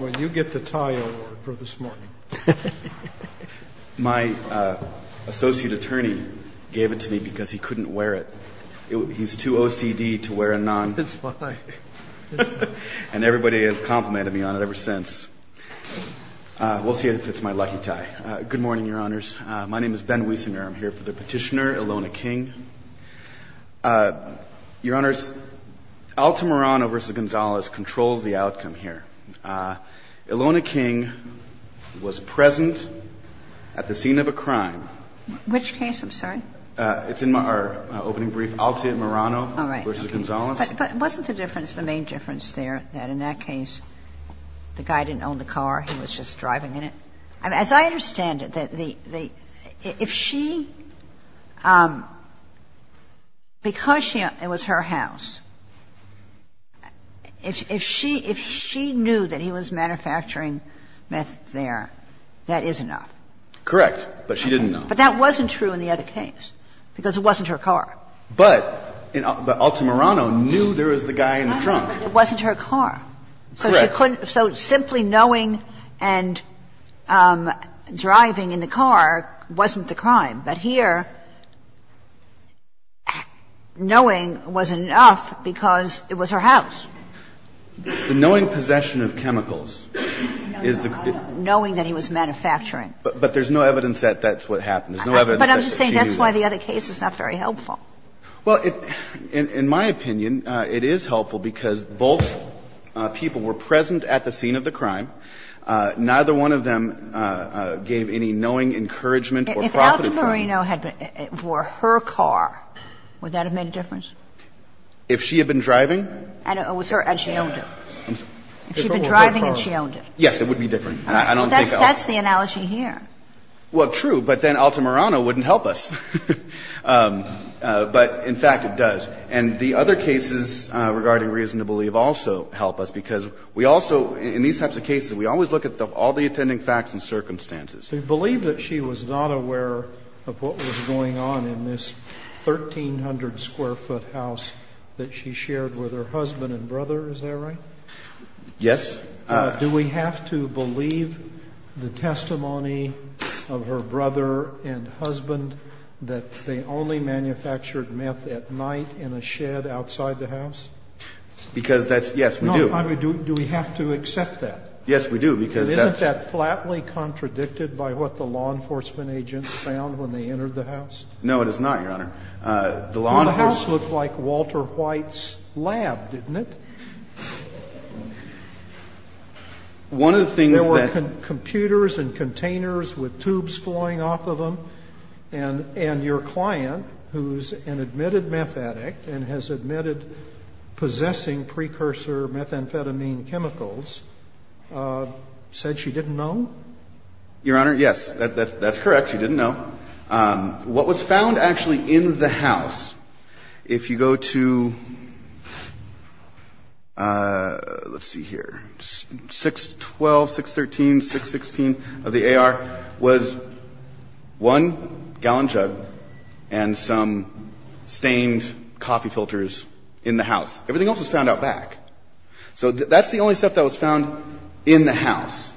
Well, you get the tie award for this morning. My associate attorney gave it to me because he couldn't wear it. He's too OCD to wear a non. It's fine. And everybody has complimented me on it ever since. We'll see if it's my lucky tie. Good morning, Your Honors. My name is Ben Wiesener. I'm here for the petitioner, Ilona King. Your Honors, Alta Morano v. Gonzales controls the outcome here. Ilona King was present at the scene of a crime. Which case? I'm sorry? It's in our opening brief, Alta Morano v. Gonzales. All right. But wasn't the difference, the main difference there that in that case the guy didn't own the car? He was just driving in it? As I understand it, if she, because it was her house, if she knew that he was manufacturing meth there, that is enough. Correct. But she didn't know. But that wasn't true in the other case because it wasn't her car. But Alta Morano knew there was the guy in the trunk. It wasn't her car. Correct. So simply knowing and driving in the car wasn't the crime. But here, knowing was enough because it was her house. The knowing possession of chemicals is the crime. Knowing that he was manufacturing. But there's no evidence that that's what happened. There's no evidence that she knew. But I'm just saying that's why the other case is not very helpful. Well, in my opinion, it is helpful because both people were present at the scene of the crime. Neither one of them gave any knowing encouragement or profit. If Alta Morano had been for her car, would that have made a difference? If she had been driving? And it was her and she owned it. If she had been driving and she owned it. Yes, it would be different. I don't think Alta. That's the analogy here. Well, true. But then Alta Morano wouldn't help us. But, in fact, it does. And the other cases regarding reason to believe also help us because we also, in these types of cases, we always look at all the attending facts and circumstances. So you believe that she was not aware of what was going on in this 1,300-square-foot house that she shared with her husband and brother. Is that right? Yes. Do we have to believe the testimony of her brother and husband that they only manufactured meth at night in a shed outside the house? Because that's yes, we do. Do we have to accept that? Yes, we do because that's. Isn't that flatly contradicted by what the law enforcement agents found when they entered the house? No, it is not, Your Honor. The law enforcement. The house looked like Walter White's lab, didn't it? One of the things that. There were computers and containers with tubes flowing off of them. And your client, who's an admitted meth addict and has admitted possessing precursor methamphetamine chemicals, said she didn't know? Your Honor, yes. That's correct. She didn't know. What was found actually in the house, if you go to, let's see here, 612, 613, 616 of the AR, was one gallon jug and some stained coffee filters in the house. Everything else was found out back. So that's the only stuff that was found in the house.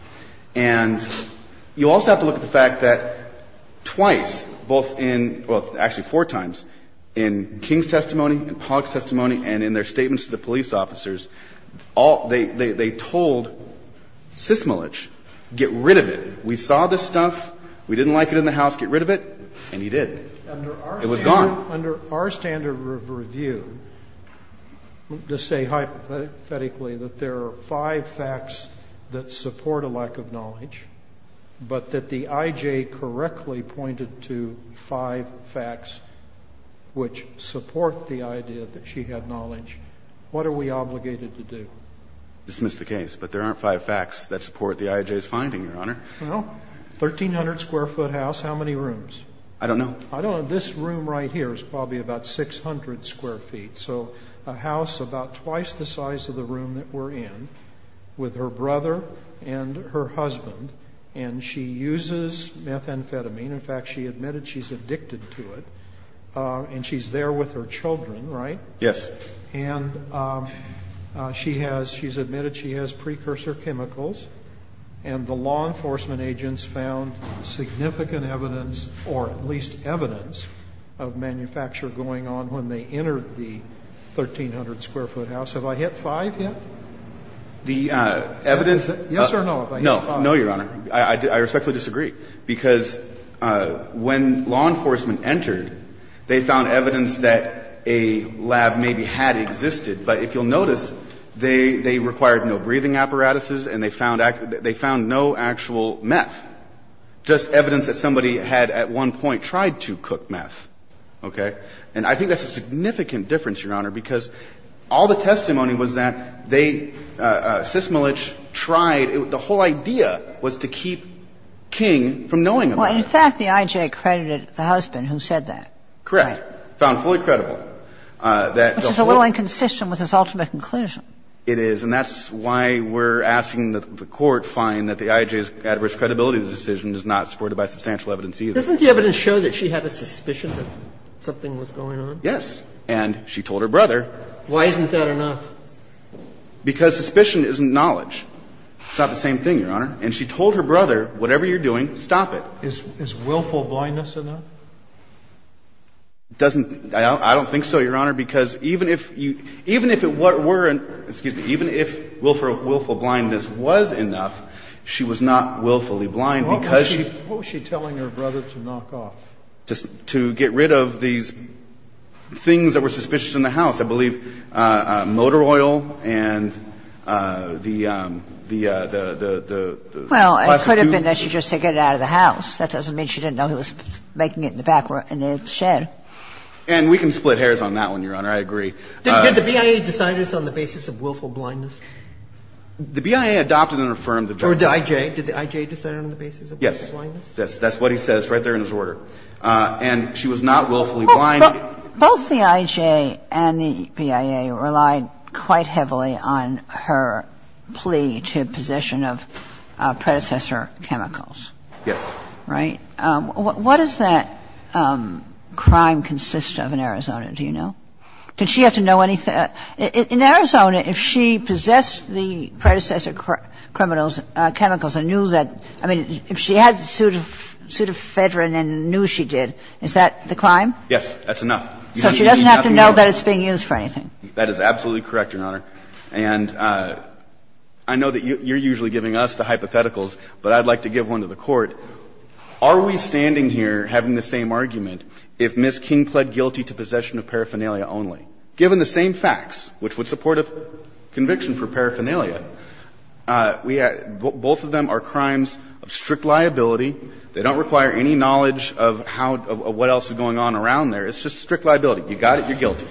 And you also have to look at the fact that twice, both in, well, actually four times, in King's testimony and Pollack's testimony and in their statements to the police officers, all they told Sismolich, get rid of it. We saw this stuff. We didn't like it in the house. Get rid of it. And he did. It was gone. Under our standard of review, to say hypothetically that there are five facts that support a lack of knowledge, but that the IJ correctly pointed to five facts which support the idea that she had knowledge, what are we obligated to do? Dismiss the case. But there aren't five facts that support the IJ's finding, Your Honor. Well, 1,300-square-foot house, how many rooms? I don't know. I don't know. This room right here is probably about 600 square feet. So a house about twice the size of the room that we're in with her brother and her husband. And she uses methamphetamine. In fact, she admitted she's addicted to it. And she's there with her children, right? Yes. And she has, she's admitted she has precursor chemicals. And the law enforcement agents found significant evidence, or at least evidence, of manufacture going on when they entered the 1,300-square-foot house. Have I hit five yet? The evidence. Yes or no? No. No, Your Honor. I respectfully disagree. Because when law enforcement entered, they found evidence that a lab maybe had existed, but if you'll notice, they required no breathing apparatuses and they found no actual meth. Just evidence that somebody had at one point tried to cook meth. Okay? And I think that's a significant difference, Your Honor, because all the testimony was that they, Sysmolich, tried. The whole idea was to keep King from knowing about it. Well, in fact, the I.J. credited the husband who said that. Correct. Found fully credible. Which is a little inconsistent with his ultimate conclusion. It is. And that's why we're asking that the Court find that the I.J.'s adverse credibility of the decision is not supported by substantial evidence either. Doesn't the evidence show that she had a suspicion that something was going on? Yes. And she told her brother. Why isn't that enough? Because suspicion isn't knowledge. It's not the same thing, Your Honor. And she told her brother, whatever you're doing, stop it. Is willful blindness enough? It doesn't. I don't think so, Your Honor. Even if it weren't, excuse me, even if willful blindness was enough, she was not willfully blind because she. What was she telling her brother to knock off? To get rid of these things that were suspicious in the house. I believe motor oil and the plastic tube. Well, it could have been that she just said get it out of the house. That doesn't mean she didn't know he was making it in the back of the shed. And we can split hairs on that one, Your Honor. I agree. Did the BIA decide this on the basis of willful blindness? The BIA adopted and affirmed the judgment. Or the IJ. Did the IJ decide it on the basis of willful blindness? Yes. That's what he says right there in his order. And she was not willfully blind. Both the IJ and the BIA relied quite heavily on her plea to position of predecessor chemicals. Yes. Right? What does that crime consist of in Arizona? Do you know? Did she have to know anything? In Arizona, if she possessed the predecessor criminals' chemicals and knew that ‑‑ I mean, if she had a suit of Fedrin and knew she did, is that the crime? Yes. That's enough. So she doesn't have to know that it's being used for anything. That is absolutely correct, Your Honor. And I know that you're usually giving us the hypotheticals, but I'd like to give one to the Court. Are we standing here having the same argument if Ms. King pled guilty to possession of paraphernalia only? Given the same facts, which would support a conviction for paraphernalia, we have ‑‑ both of them are crimes of strict liability. They don't require any knowledge of how ‑‑ of what else is going on around there. It's just strict liability. You got it, you're guilty.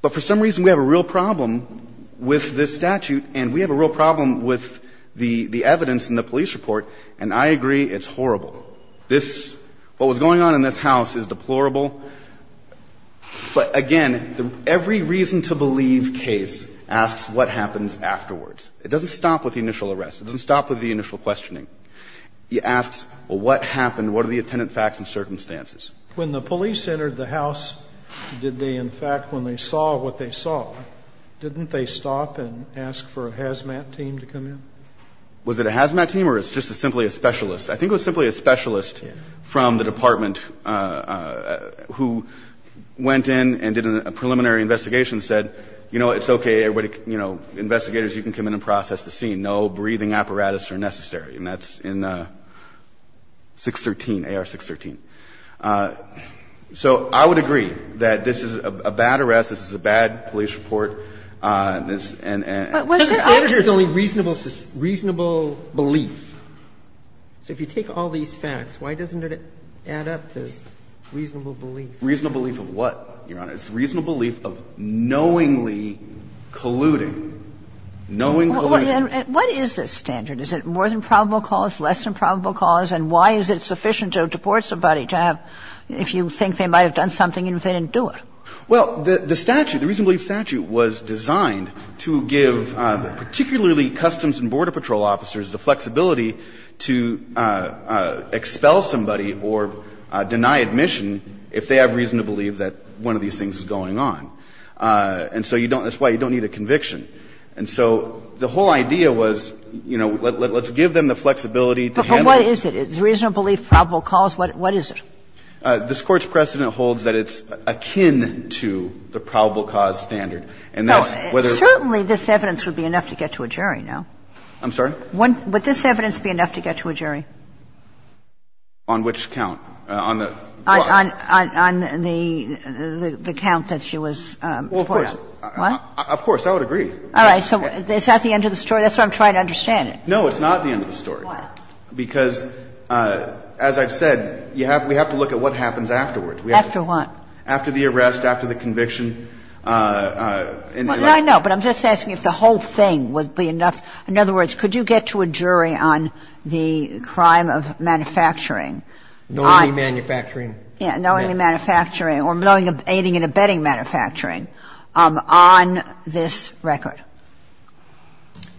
But for some reason, we have a real problem with this statute, and we have a real problem with the evidence in the police report. And I agree, it's horrible. This ‑‑ what was going on in this house is deplorable. But, again, every reason to believe case asks what happens afterwards. It doesn't stop with the initial arrest. It doesn't stop with the initial questioning. It asks, well, what happened? What are the attendant facts and circumstances? When the police entered the house, did they, in fact, when they saw what they saw, didn't they stop and ask for a HAZMAT team to come in? Was it a HAZMAT team or just simply a specialist? I think it was simply a specialist from the department who went in and did a preliminary investigation and said, you know, it's okay, everybody, you know, investigators, you can come in and process the scene. No breathing apparatus are necessary. And that's in 613, AR 613. So I would agree that this is a bad arrest. This is a bad police report. And the standard here is only reasonable belief. So if you take all these facts, why doesn't it add up to reasonable belief? Reasonable belief of what, Your Honor? It's reasonable belief of knowingly colluding. Knowing colluding. And what is this standard? Is it more than probable cause, less than probable cause? And why is it sufficient to deport somebody to have, if you think they might have done something, even if they didn't do it? Well, the statute, the reasonable belief statute was designed to give particularly Customs and Border Patrol officers the flexibility to expel somebody or deny admission if they have reason to believe that one of these things is going on. And so you don't, that's why you don't need a conviction. And so the whole idea was, you know, let's give them the flexibility to handle what is it. Is reasonable belief probable cause? What is it? This Court's precedent holds that it's akin to the probable cause standard. And that's whether. Certainly this evidence would be enough to get to a jury, no? I'm sorry? Would this evidence be enough to get to a jury? On which count? On the? On the count that she was deported on. Well, of course. What? Of course. I would agree. So is that the end of the story? That's what I'm trying to understand. No, it's not the end of the story. Why? Because, as I've said, you have, we have to look at what happens afterwards. After what? After the arrest, after the conviction. I know, but I'm just asking if the whole thing would be enough. In other words, could you get to a jury on the crime of manufacturing? Knowingly manufacturing. Yeah, knowingly manufacturing or knowingly aiding and abetting manufacturing on this record.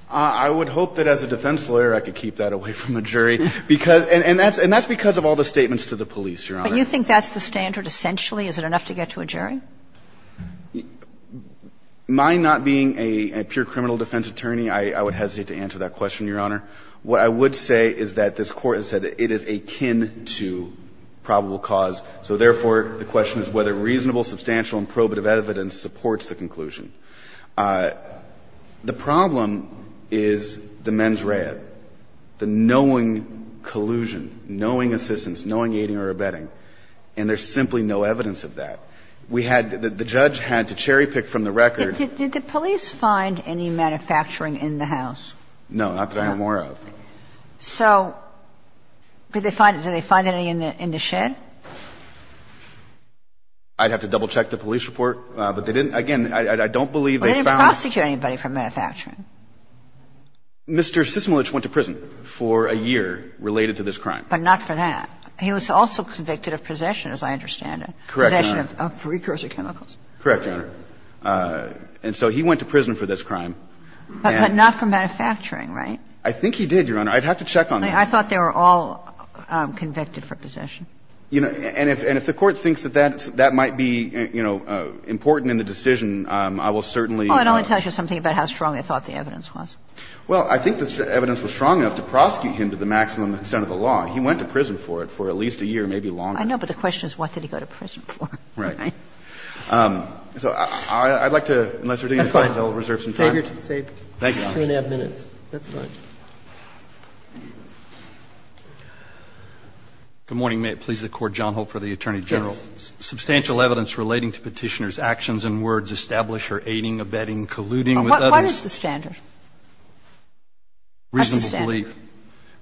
I would hope that as a defense lawyer I could keep that away from a jury. And that's because of all the statements to the police, Your Honor. But you think that's the standard essentially? Is it enough to get to a jury? My not being a pure criminal defense attorney, I would hesitate to answer that question, Your Honor. What I would say is that this Court has said that it is akin to probable cause. So therefore, the question is whether reasonable, substantial and probative evidence supports the conclusion. The problem is the mens rea, the knowing collusion, knowing assistance, knowing aiding or abetting, and there's simply no evidence of that. We had, the judge had to cherry-pick from the record. Did the police find any manufacturing in the house? No, not that I know more of. So did they find any in the shed? I'd have to double-check the police report. But they didn't, again, I don't believe they found it. Well, they didn't prosecute anybody for manufacturing. Mr. Sysmulich went to prison for a year related to this crime. But not for that. He was also convicted of possession, as I understand it. Correct, Your Honor. Possession of precursor chemicals. Correct, Your Honor. And so he went to prison for this crime. But not for manufacturing, right? I think he did, Your Honor. I'd have to check on that. I thought they were all convicted for possession. You know, and if the Court thinks that that might be, you know, important in the decision, I will certainly. Well, it only tells you something about how strong they thought the evidence was. Well, I think the evidence was strong enough to prosecute him to the maximum extent of the law. He went to prison for it for at least a year, maybe longer. I know, but the question is what did he go to prison for. Right. So I'd like to, unless there's anything else, I'll reserve some time. That's fine. Save your two and a half minutes. Thank you, Your Honor. That's fine. Good morning. May it please the Court. John Hope for the Attorney General. Yes. Substantial evidence relating to Petitioner's actions and words establish her aiding, abetting, colluding with others. What is the standard? What's the standard?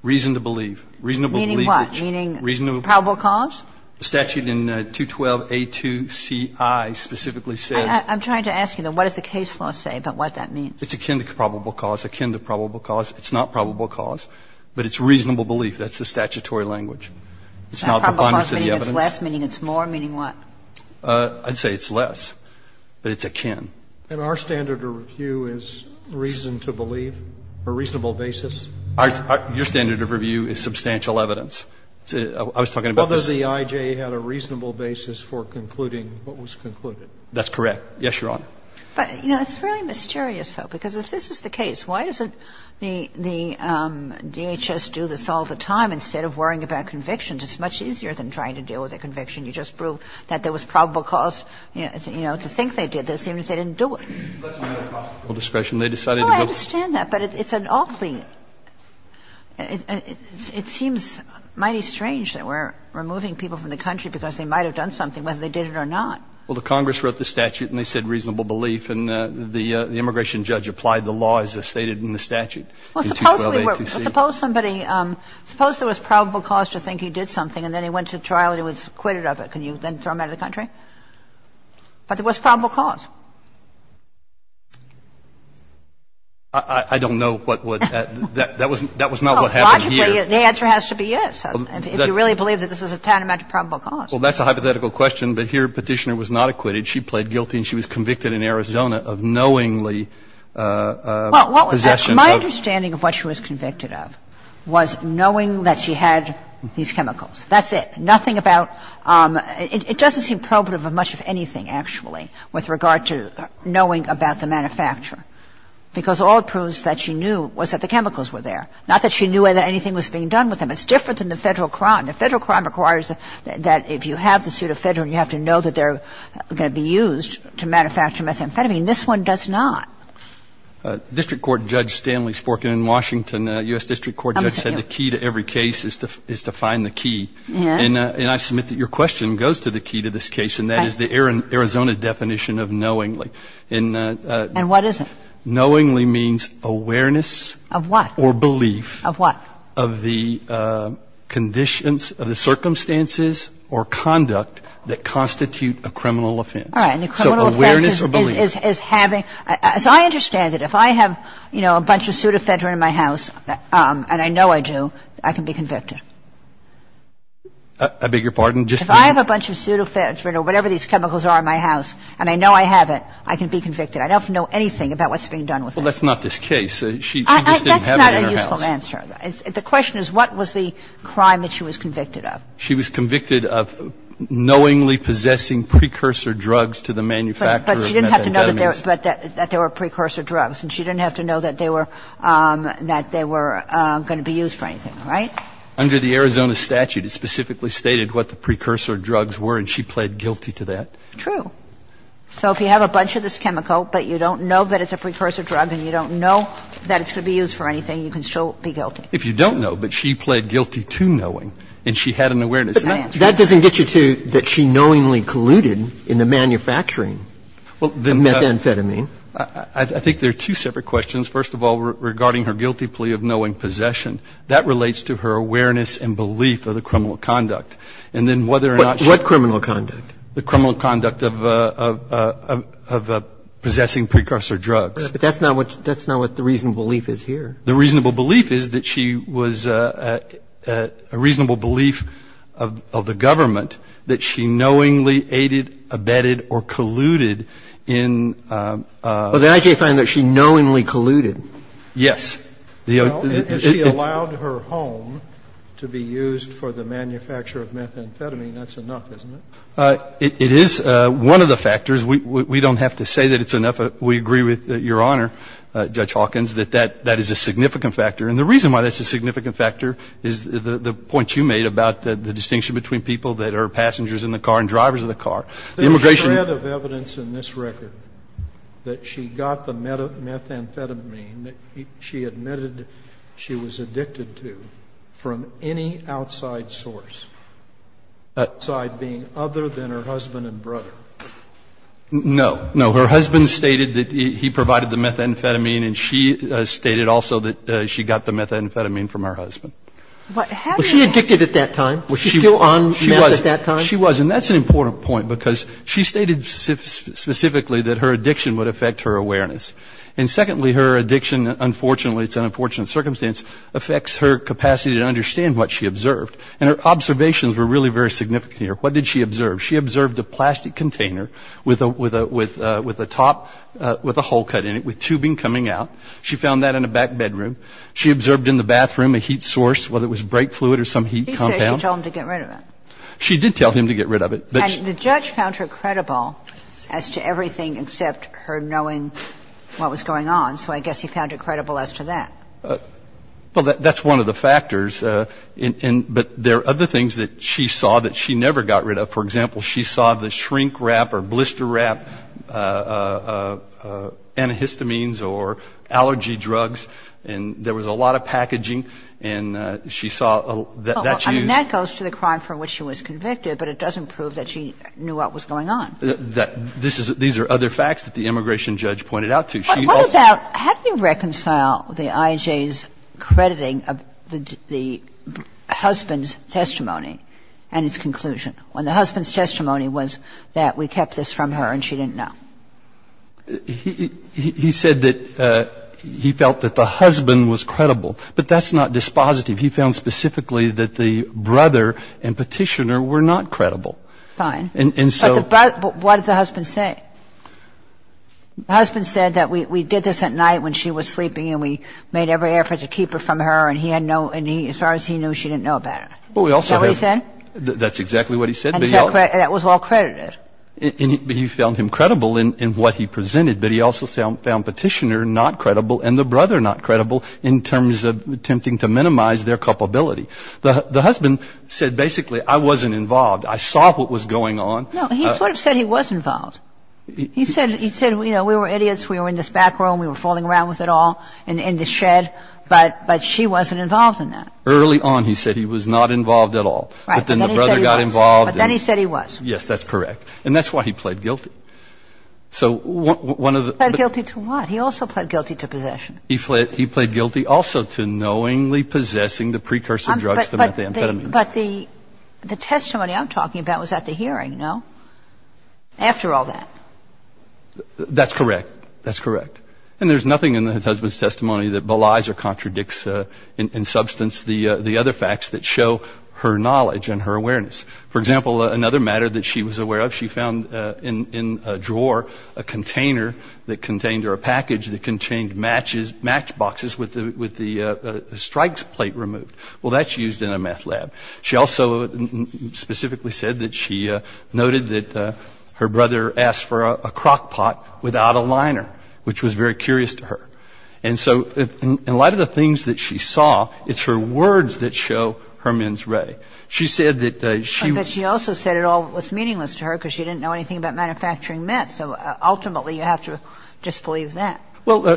Reason to believe. Reason to believe. Meaning what? Meaning probable cause? The statute in 212A2Ci specifically says. I'm trying to ask you, though, what does the case law say about what that means? It's akin to probable cause, akin to probable cause. It's not probable cause, but it's reasonable belief. That's the statutory language. It's not a preponderance of the evidence. Probable cause meaning it's less, meaning it's more, meaning what? I'd say it's less, but it's akin. And our standard of review is reason to believe, a reasonable basis? Your standard of review is substantial evidence. I was talking about this. Although the IJ had a reasonable basis for concluding what was concluded. That's correct. Yes, Your Honor. But, you know, it's really mysterious, though, because if this is the case, why doesn't the DHS do this all the time instead of worrying about convictions? It's much easier than trying to deal with a conviction. You just prove that there was probable cause, you know, to think they did this, even if they didn't do it. That's another possible discretion. They decided to go. No, I understand that, but it's an awfully – it seems mighty strange that we're removing people from the country because they might have done something, whether they did it or not. Well, the Congress wrote the statute and they said reasonable belief, and the immigration judge applied the law as stated in the statute. Well, suppose somebody – suppose there was probable cause to think he did something and then he went to trial and he was acquitted of it. Can you then throw him out of the country? But there was probable cause. I don't know what would – that was not what happened here. Well, logically, the answer has to be yes, if you really believe that this is a tantamount to probable cause. Well, that's a hypothetical question, but here Petitioner was not acquitted. She played guilty and she was convicted in Arizona of knowingly possession of – Well, my understanding of what she was convicted of was knowing that she had these chemicals. That's it. Nothing about – it doesn't seem probative of much of anything, actually, with regard to knowing about the manufacturer, because all it proves that she knew was that the chemicals were there. Not that she knew that anything was being done with them. It's different than the Federal crime. The Federal crime requires that if you have the pseudo-Federal, you have to know that they're going to be used to manufacture methamphetamine. This one does not. District Court Judge Stanley Sporkin in Washington, a U.S. District Court judge, said the key to every case is to find the key. And I submit that your question goes to the key to this case, and that is the Arizona definition of knowingly. And what is it? Knowingly means awareness. Of what? Or belief. Of what? Of the conditions, of the circumstances or conduct that constitute a criminal offense. All right. And the criminal offense is having – so I understand that if I have, you know, a bunch of pseudo-Federal in my house, and I know I do, I can be convicted. I beg your pardon? If I have a bunch of pseudo-Federal or whatever these chemicals are in my house, and I know I have it, I can be convicted. I don't have to know anything about what's being done with them. Well, that's not this case. She just didn't have it in her house. That's not a useful answer. The question is what was the crime that she was convicted of? She was convicted of knowingly possessing precursor drugs to the manufacturer of methamphetamines. But she didn't have to know that there were precursor drugs, and she didn't have to know that they were going to be used for anything, right? Under the Arizona statute, it specifically stated what the precursor drugs were, and she pled guilty to that. True. So if you have a bunch of this chemical, but you don't know that it's a precursor drug, and you don't know that it's going to be used for anything, you can still be guilty. If you don't know, but she pled guilty to knowing, and she had an awareness. But that doesn't get you to that she knowingly colluded in the manufacturing of methamphetamine. I think there are two separate questions. First of all, regarding her guilty plea of knowing possession, that relates to her awareness and belief of the criminal conduct. And then whether or not she was convicted of possessing precursor drugs. But that's not what the reasonable belief is here. The reasonable belief is that she was a reasonable belief of the government that she knowingly aided, abetted, or colluded in. But the I.J. found that she knowingly colluded. Yes. Has she allowed her home to be used for the manufacture of methamphetamine? That's enough, isn't it? It is one of the factors. We don't have to say that it's enough. We agree with Your Honor, Judge Hawkins, that that is a significant factor. And the reason why that's a significant factor is the point you made about the distinction between people that are passengers in the car and drivers of the car. Immigration ---- There is a shred of evidence in this record that she got the methamphetamine that she admitted she was addicted to from any outside source, outside being other than her husband and brother. No. No. Her husband stated that he provided the methamphetamine and she stated also that she got the methamphetamine from her husband. Was she addicted at that time? Was she still on meth at that time? She was. And that's an important point because she stated specifically that her addiction would affect her awareness. And secondly, her addiction, unfortunately, it's an unfortunate circumstance, affects her capacity to understand what she observed. And her observations were really very significant here. What did she observe? She observed a plastic container with a top, with a hole cut in it, with tubing coming out. She found that in a back bedroom. She observed in the bathroom a heat source, whether it was brake fluid or some heat compound. He said she told him to get rid of it. She did tell him to get rid of it. And the judge found her credible as to everything except her knowing what was going on. Well, that's one of the factors. But there are other things that she saw that she never got rid of. For example, she saw the shrink wrap or blister wrap, antihistamines or allergy drugs. And there was a lot of packaging. And she saw that she used. That goes to the crime for which she was convicted, but it doesn't prove that she knew what was going on. These are other facts that the immigration judge pointed out to. What about, have you reconciled the IJ's crediting of the husband's testimony and its conclusion? When the husband's testimony was that we kept this from her and she didn't know. He said that he felt that the husband was credible. But that's not dispositive. He found specifically that the brother and petitioner were not credible. Fine. But what did the husband say? The husband said that we did this at night when she was sleeping and we made every effort to keep it from her and he had no, and as far as he knew, she didn't know about it. Is that what he said? That's exactly what he said. And that was all credited. But he found him credible in what he presented. But he also found petitioner not credible and the brother not credible in terms of attempting to minimize their culpability. The husband said basically, I wasn't involved. I saw what was going on. No, he sort of said he was involved. He said, you know, we were idiots. We were in this back room. We were fooling around with it all in the shed. But she wasn't involved in that. Early on, he said he was not involved at all. But then the brother got involved. But then he said he was. Yes, that's correct. And that's why he pled guilty. So one of the. He pled guilty to what? He also pled guilty to possession. He pled guilty also to knowingly possessing the precursor drugs to methamphetamine. But the testimony I'm talking about was at the hearing, no? After all that. That's correct. That's correct. And there's nothing in the husband's testimony that belies or contradicts in substance the other facts that show her knowledge and her awareness. For example, another matter that she was aware of, she found in a drawer a container that contained or a package that contained match boxes with the strikes plate removed. Well, that's used in a meth lab. She also specifically said that she noted that her brother asked for a crockpot without a liner, which was very curious to her. And so in light of the things that she saw, it's her words that show her mens rea. She said that she. But she also said it all was meaningless to her because she didn't know anything about manufacturing meth. So ultimately, you have to disbelieve that. She told the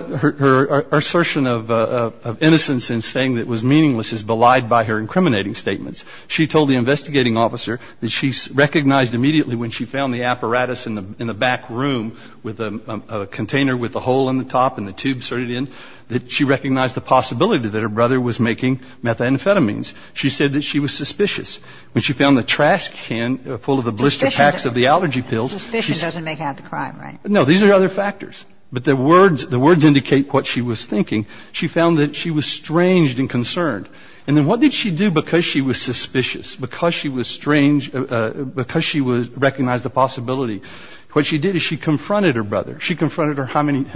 investigating officer that she recognized immediately when she found the apparatus in the back room with a container with a hole in the top and the tube inserted in, that she recognized the possibility that her brother was making methamphetamines. She said that she was suspicious. When she found the trash can full of the blister packs of the allergy pills. Suspicion doesn't make out the crime, right? No. These are other factors. But the words indicate what she was thinking. She found that she was strange and concerned. And then what did she do because she was suspicious, because she was strange, because she recognized the possibility? What she did is she confronted her brother. She confronted him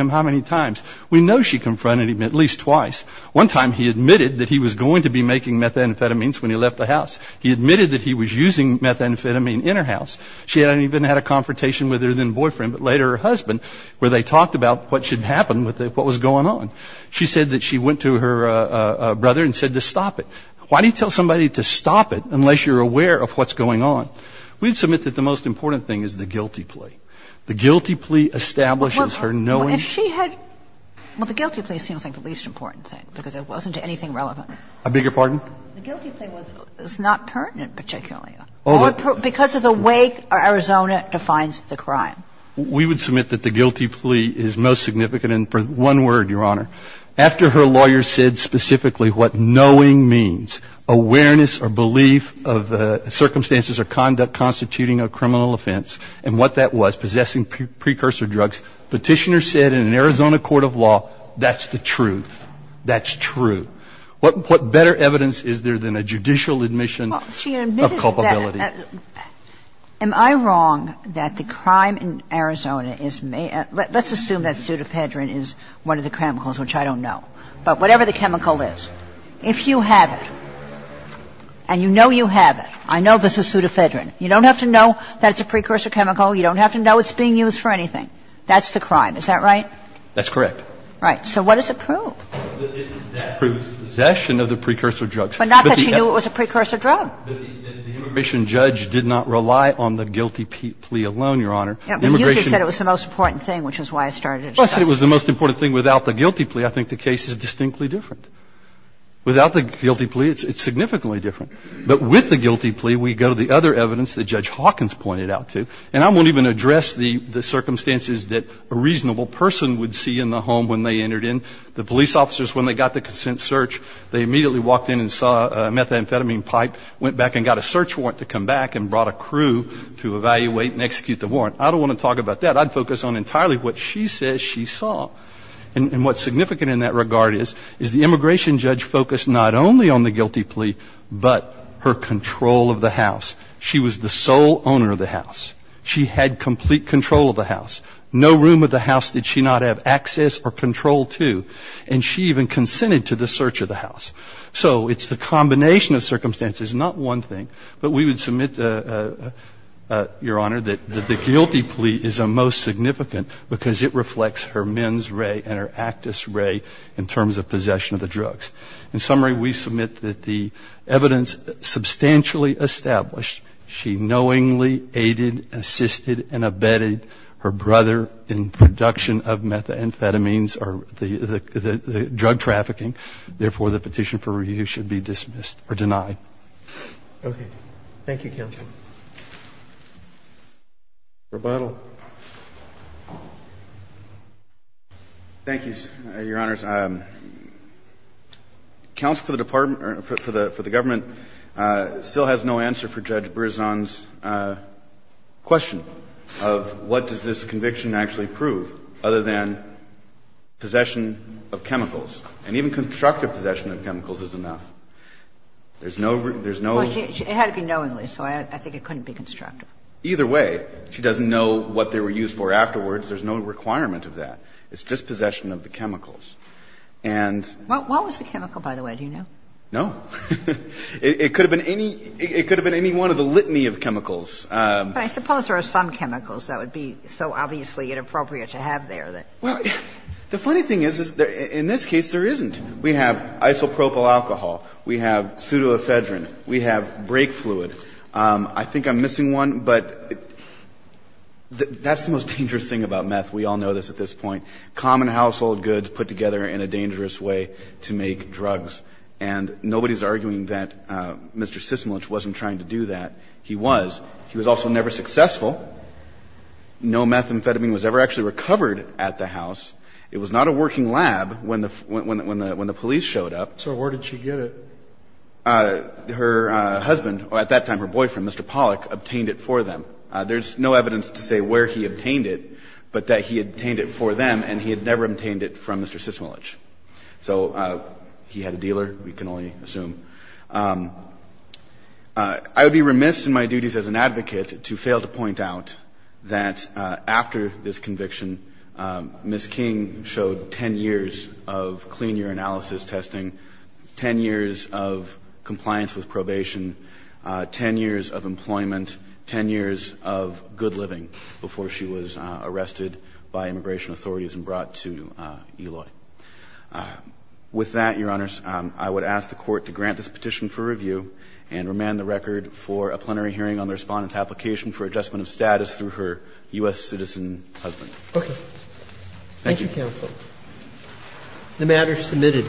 how many times? We know she confronted him at least twice. One time he admitted that he was going to be making methamphetamines when he left the house. He admitted that he was using methamphetamine in her house. She hadn't even had a confrontation with her then boyfriend, but later her husband, where they talked about what should happen, what was going on. She said that she went to her brother and said to stop it. Why do you tell somebody to stop it unless you're aware of what's going on? We'd submit that the most important thing is the guilty plea. The guilty plea establishes her knowing. Well, if she had. Well, the guilty plea seems like the least important thing because it wasn't anything relevant. I beg your pardon? The guilty plea was not pertinent particularly. Because of the way Arizona defines the crime. We would submit that the guilty plea is most significant. And for one word, Your Honor, after her lawyer said specifically what knowing means, awareness or belief of circumstances or conduct constituting a criminal offense, and what that was, possessing precursor drugs, Petitioner said in an Arizona court of law, that's the truth. That's true. What better evidence is there than a judicial admission of culpability? Am I wrong that the crime in Arizona is made? Let's assume that pseudophedrine is one of the chemicals, which I don't know. But whatever the chemical is, if you have it and you know you have it, I know this is pseudophedrine, you don't have to know that it's a precursor chemical. You don't have to know it's being used for anything. That's the crime. Is that right? That's correct. Right. So what does it prove? It proves possession of the precursor drugs. But not that she knew it was a precursor drug. But the immigration judge did not rely on the guilty plea alone, Your Honor. But you just said it was the most important thing, which is why I started it. Well, I said it was the most important thing. Without the guilty plea, I think the case is distinctly different. Without the guilty plea, it's significantly different. But with the guilty plea, we go to the other evidence that Judge Hawkins pointed out to. And I won't even address the circumstances that a reasonable person would see in the home when they entered in. The police officers, when they got the consent search, they immediately walked in and saw a methamphetamine pipe, went back and got a search warrant to come back and brought a crew to evaluate and execute the warrant. I don't want to talk about that. I'd focus on entirely what she says she saw. And what's significant in that regard is, is the immigration judge focused not only on the guilty plea, but her control of the house. She was the sole owner of the house. She had complete control of the house. No room of the house did she not have access or control to. And she even consented to the search of the house. So it's the combination of circumstances, not one thing. But we would submit, Your Honor, that the guilty plea is the most significant because it reflects her mens rea and her actus rea in terms of possession of the drugs. In summary, we submit that the evidence substantially established, she knowingly aided, assisted and abetted her brother in production of methamphetamines or the drug trafficking. Okay. Thank you, Counsel. Rebuttal. Thank you, Your Honors. Counsel for the Department or for the government still has no answer for Judge Berzon's question of what does this conviction actually prove other than possession of chemicals. And even constructive possession of chemicals is enough. There's no there's no it had to be knowingly. So I think it couldn't be constructive either way. She doesn't know what they were used for afterwards. There's no requirement of that. It's just possession of the chemicals. And what was the chemical by the way? Do you know? No, it could have been any it could have been any one of the litany of chemicals. I suppose there are some chemicals that would be so obviously inappropriate to have there that well, the funny thing is, is there in this case there isn't We have isopropyl alcohol. We have pseudoephedrine. We have brake fluid. I think I'm missing one, but that's the most dangerous thing about meth. We all know this at this point common household goods put together in a dangerous way to make drugs and nobody's arguing that Mr. Sysmalich wasn't trying to do that. He was he was also never successful. No methamphetamine was ever actually recovered at the house. It was not a working lab when the when the when the when the police showed up. So where did she get it? Her husband or at that time her boyfriend, Mr. Pollack obtained it for them. There's no evidence to say where he obtained it, but that he obtained it for them and he had never obtained it from Mr. Sysmalich. So he had a dealer. We can only assume I would be remiss in my duties as an advocate to fail to point out that after this conviction, Ms. King showed 10 years of clean urinalysis testing, 10 years of compliance with probation, 10 years of employment, 10 years of good living before she was arrested by immigration authorities and brought to Eloy. With that, Your Honor, I would ask the court to grant this petition for review and remand the record for a plenary hearing on the respondents application for adjustment of status through her U.S. citizen husband. Thank you, counsel. The matter is submitted.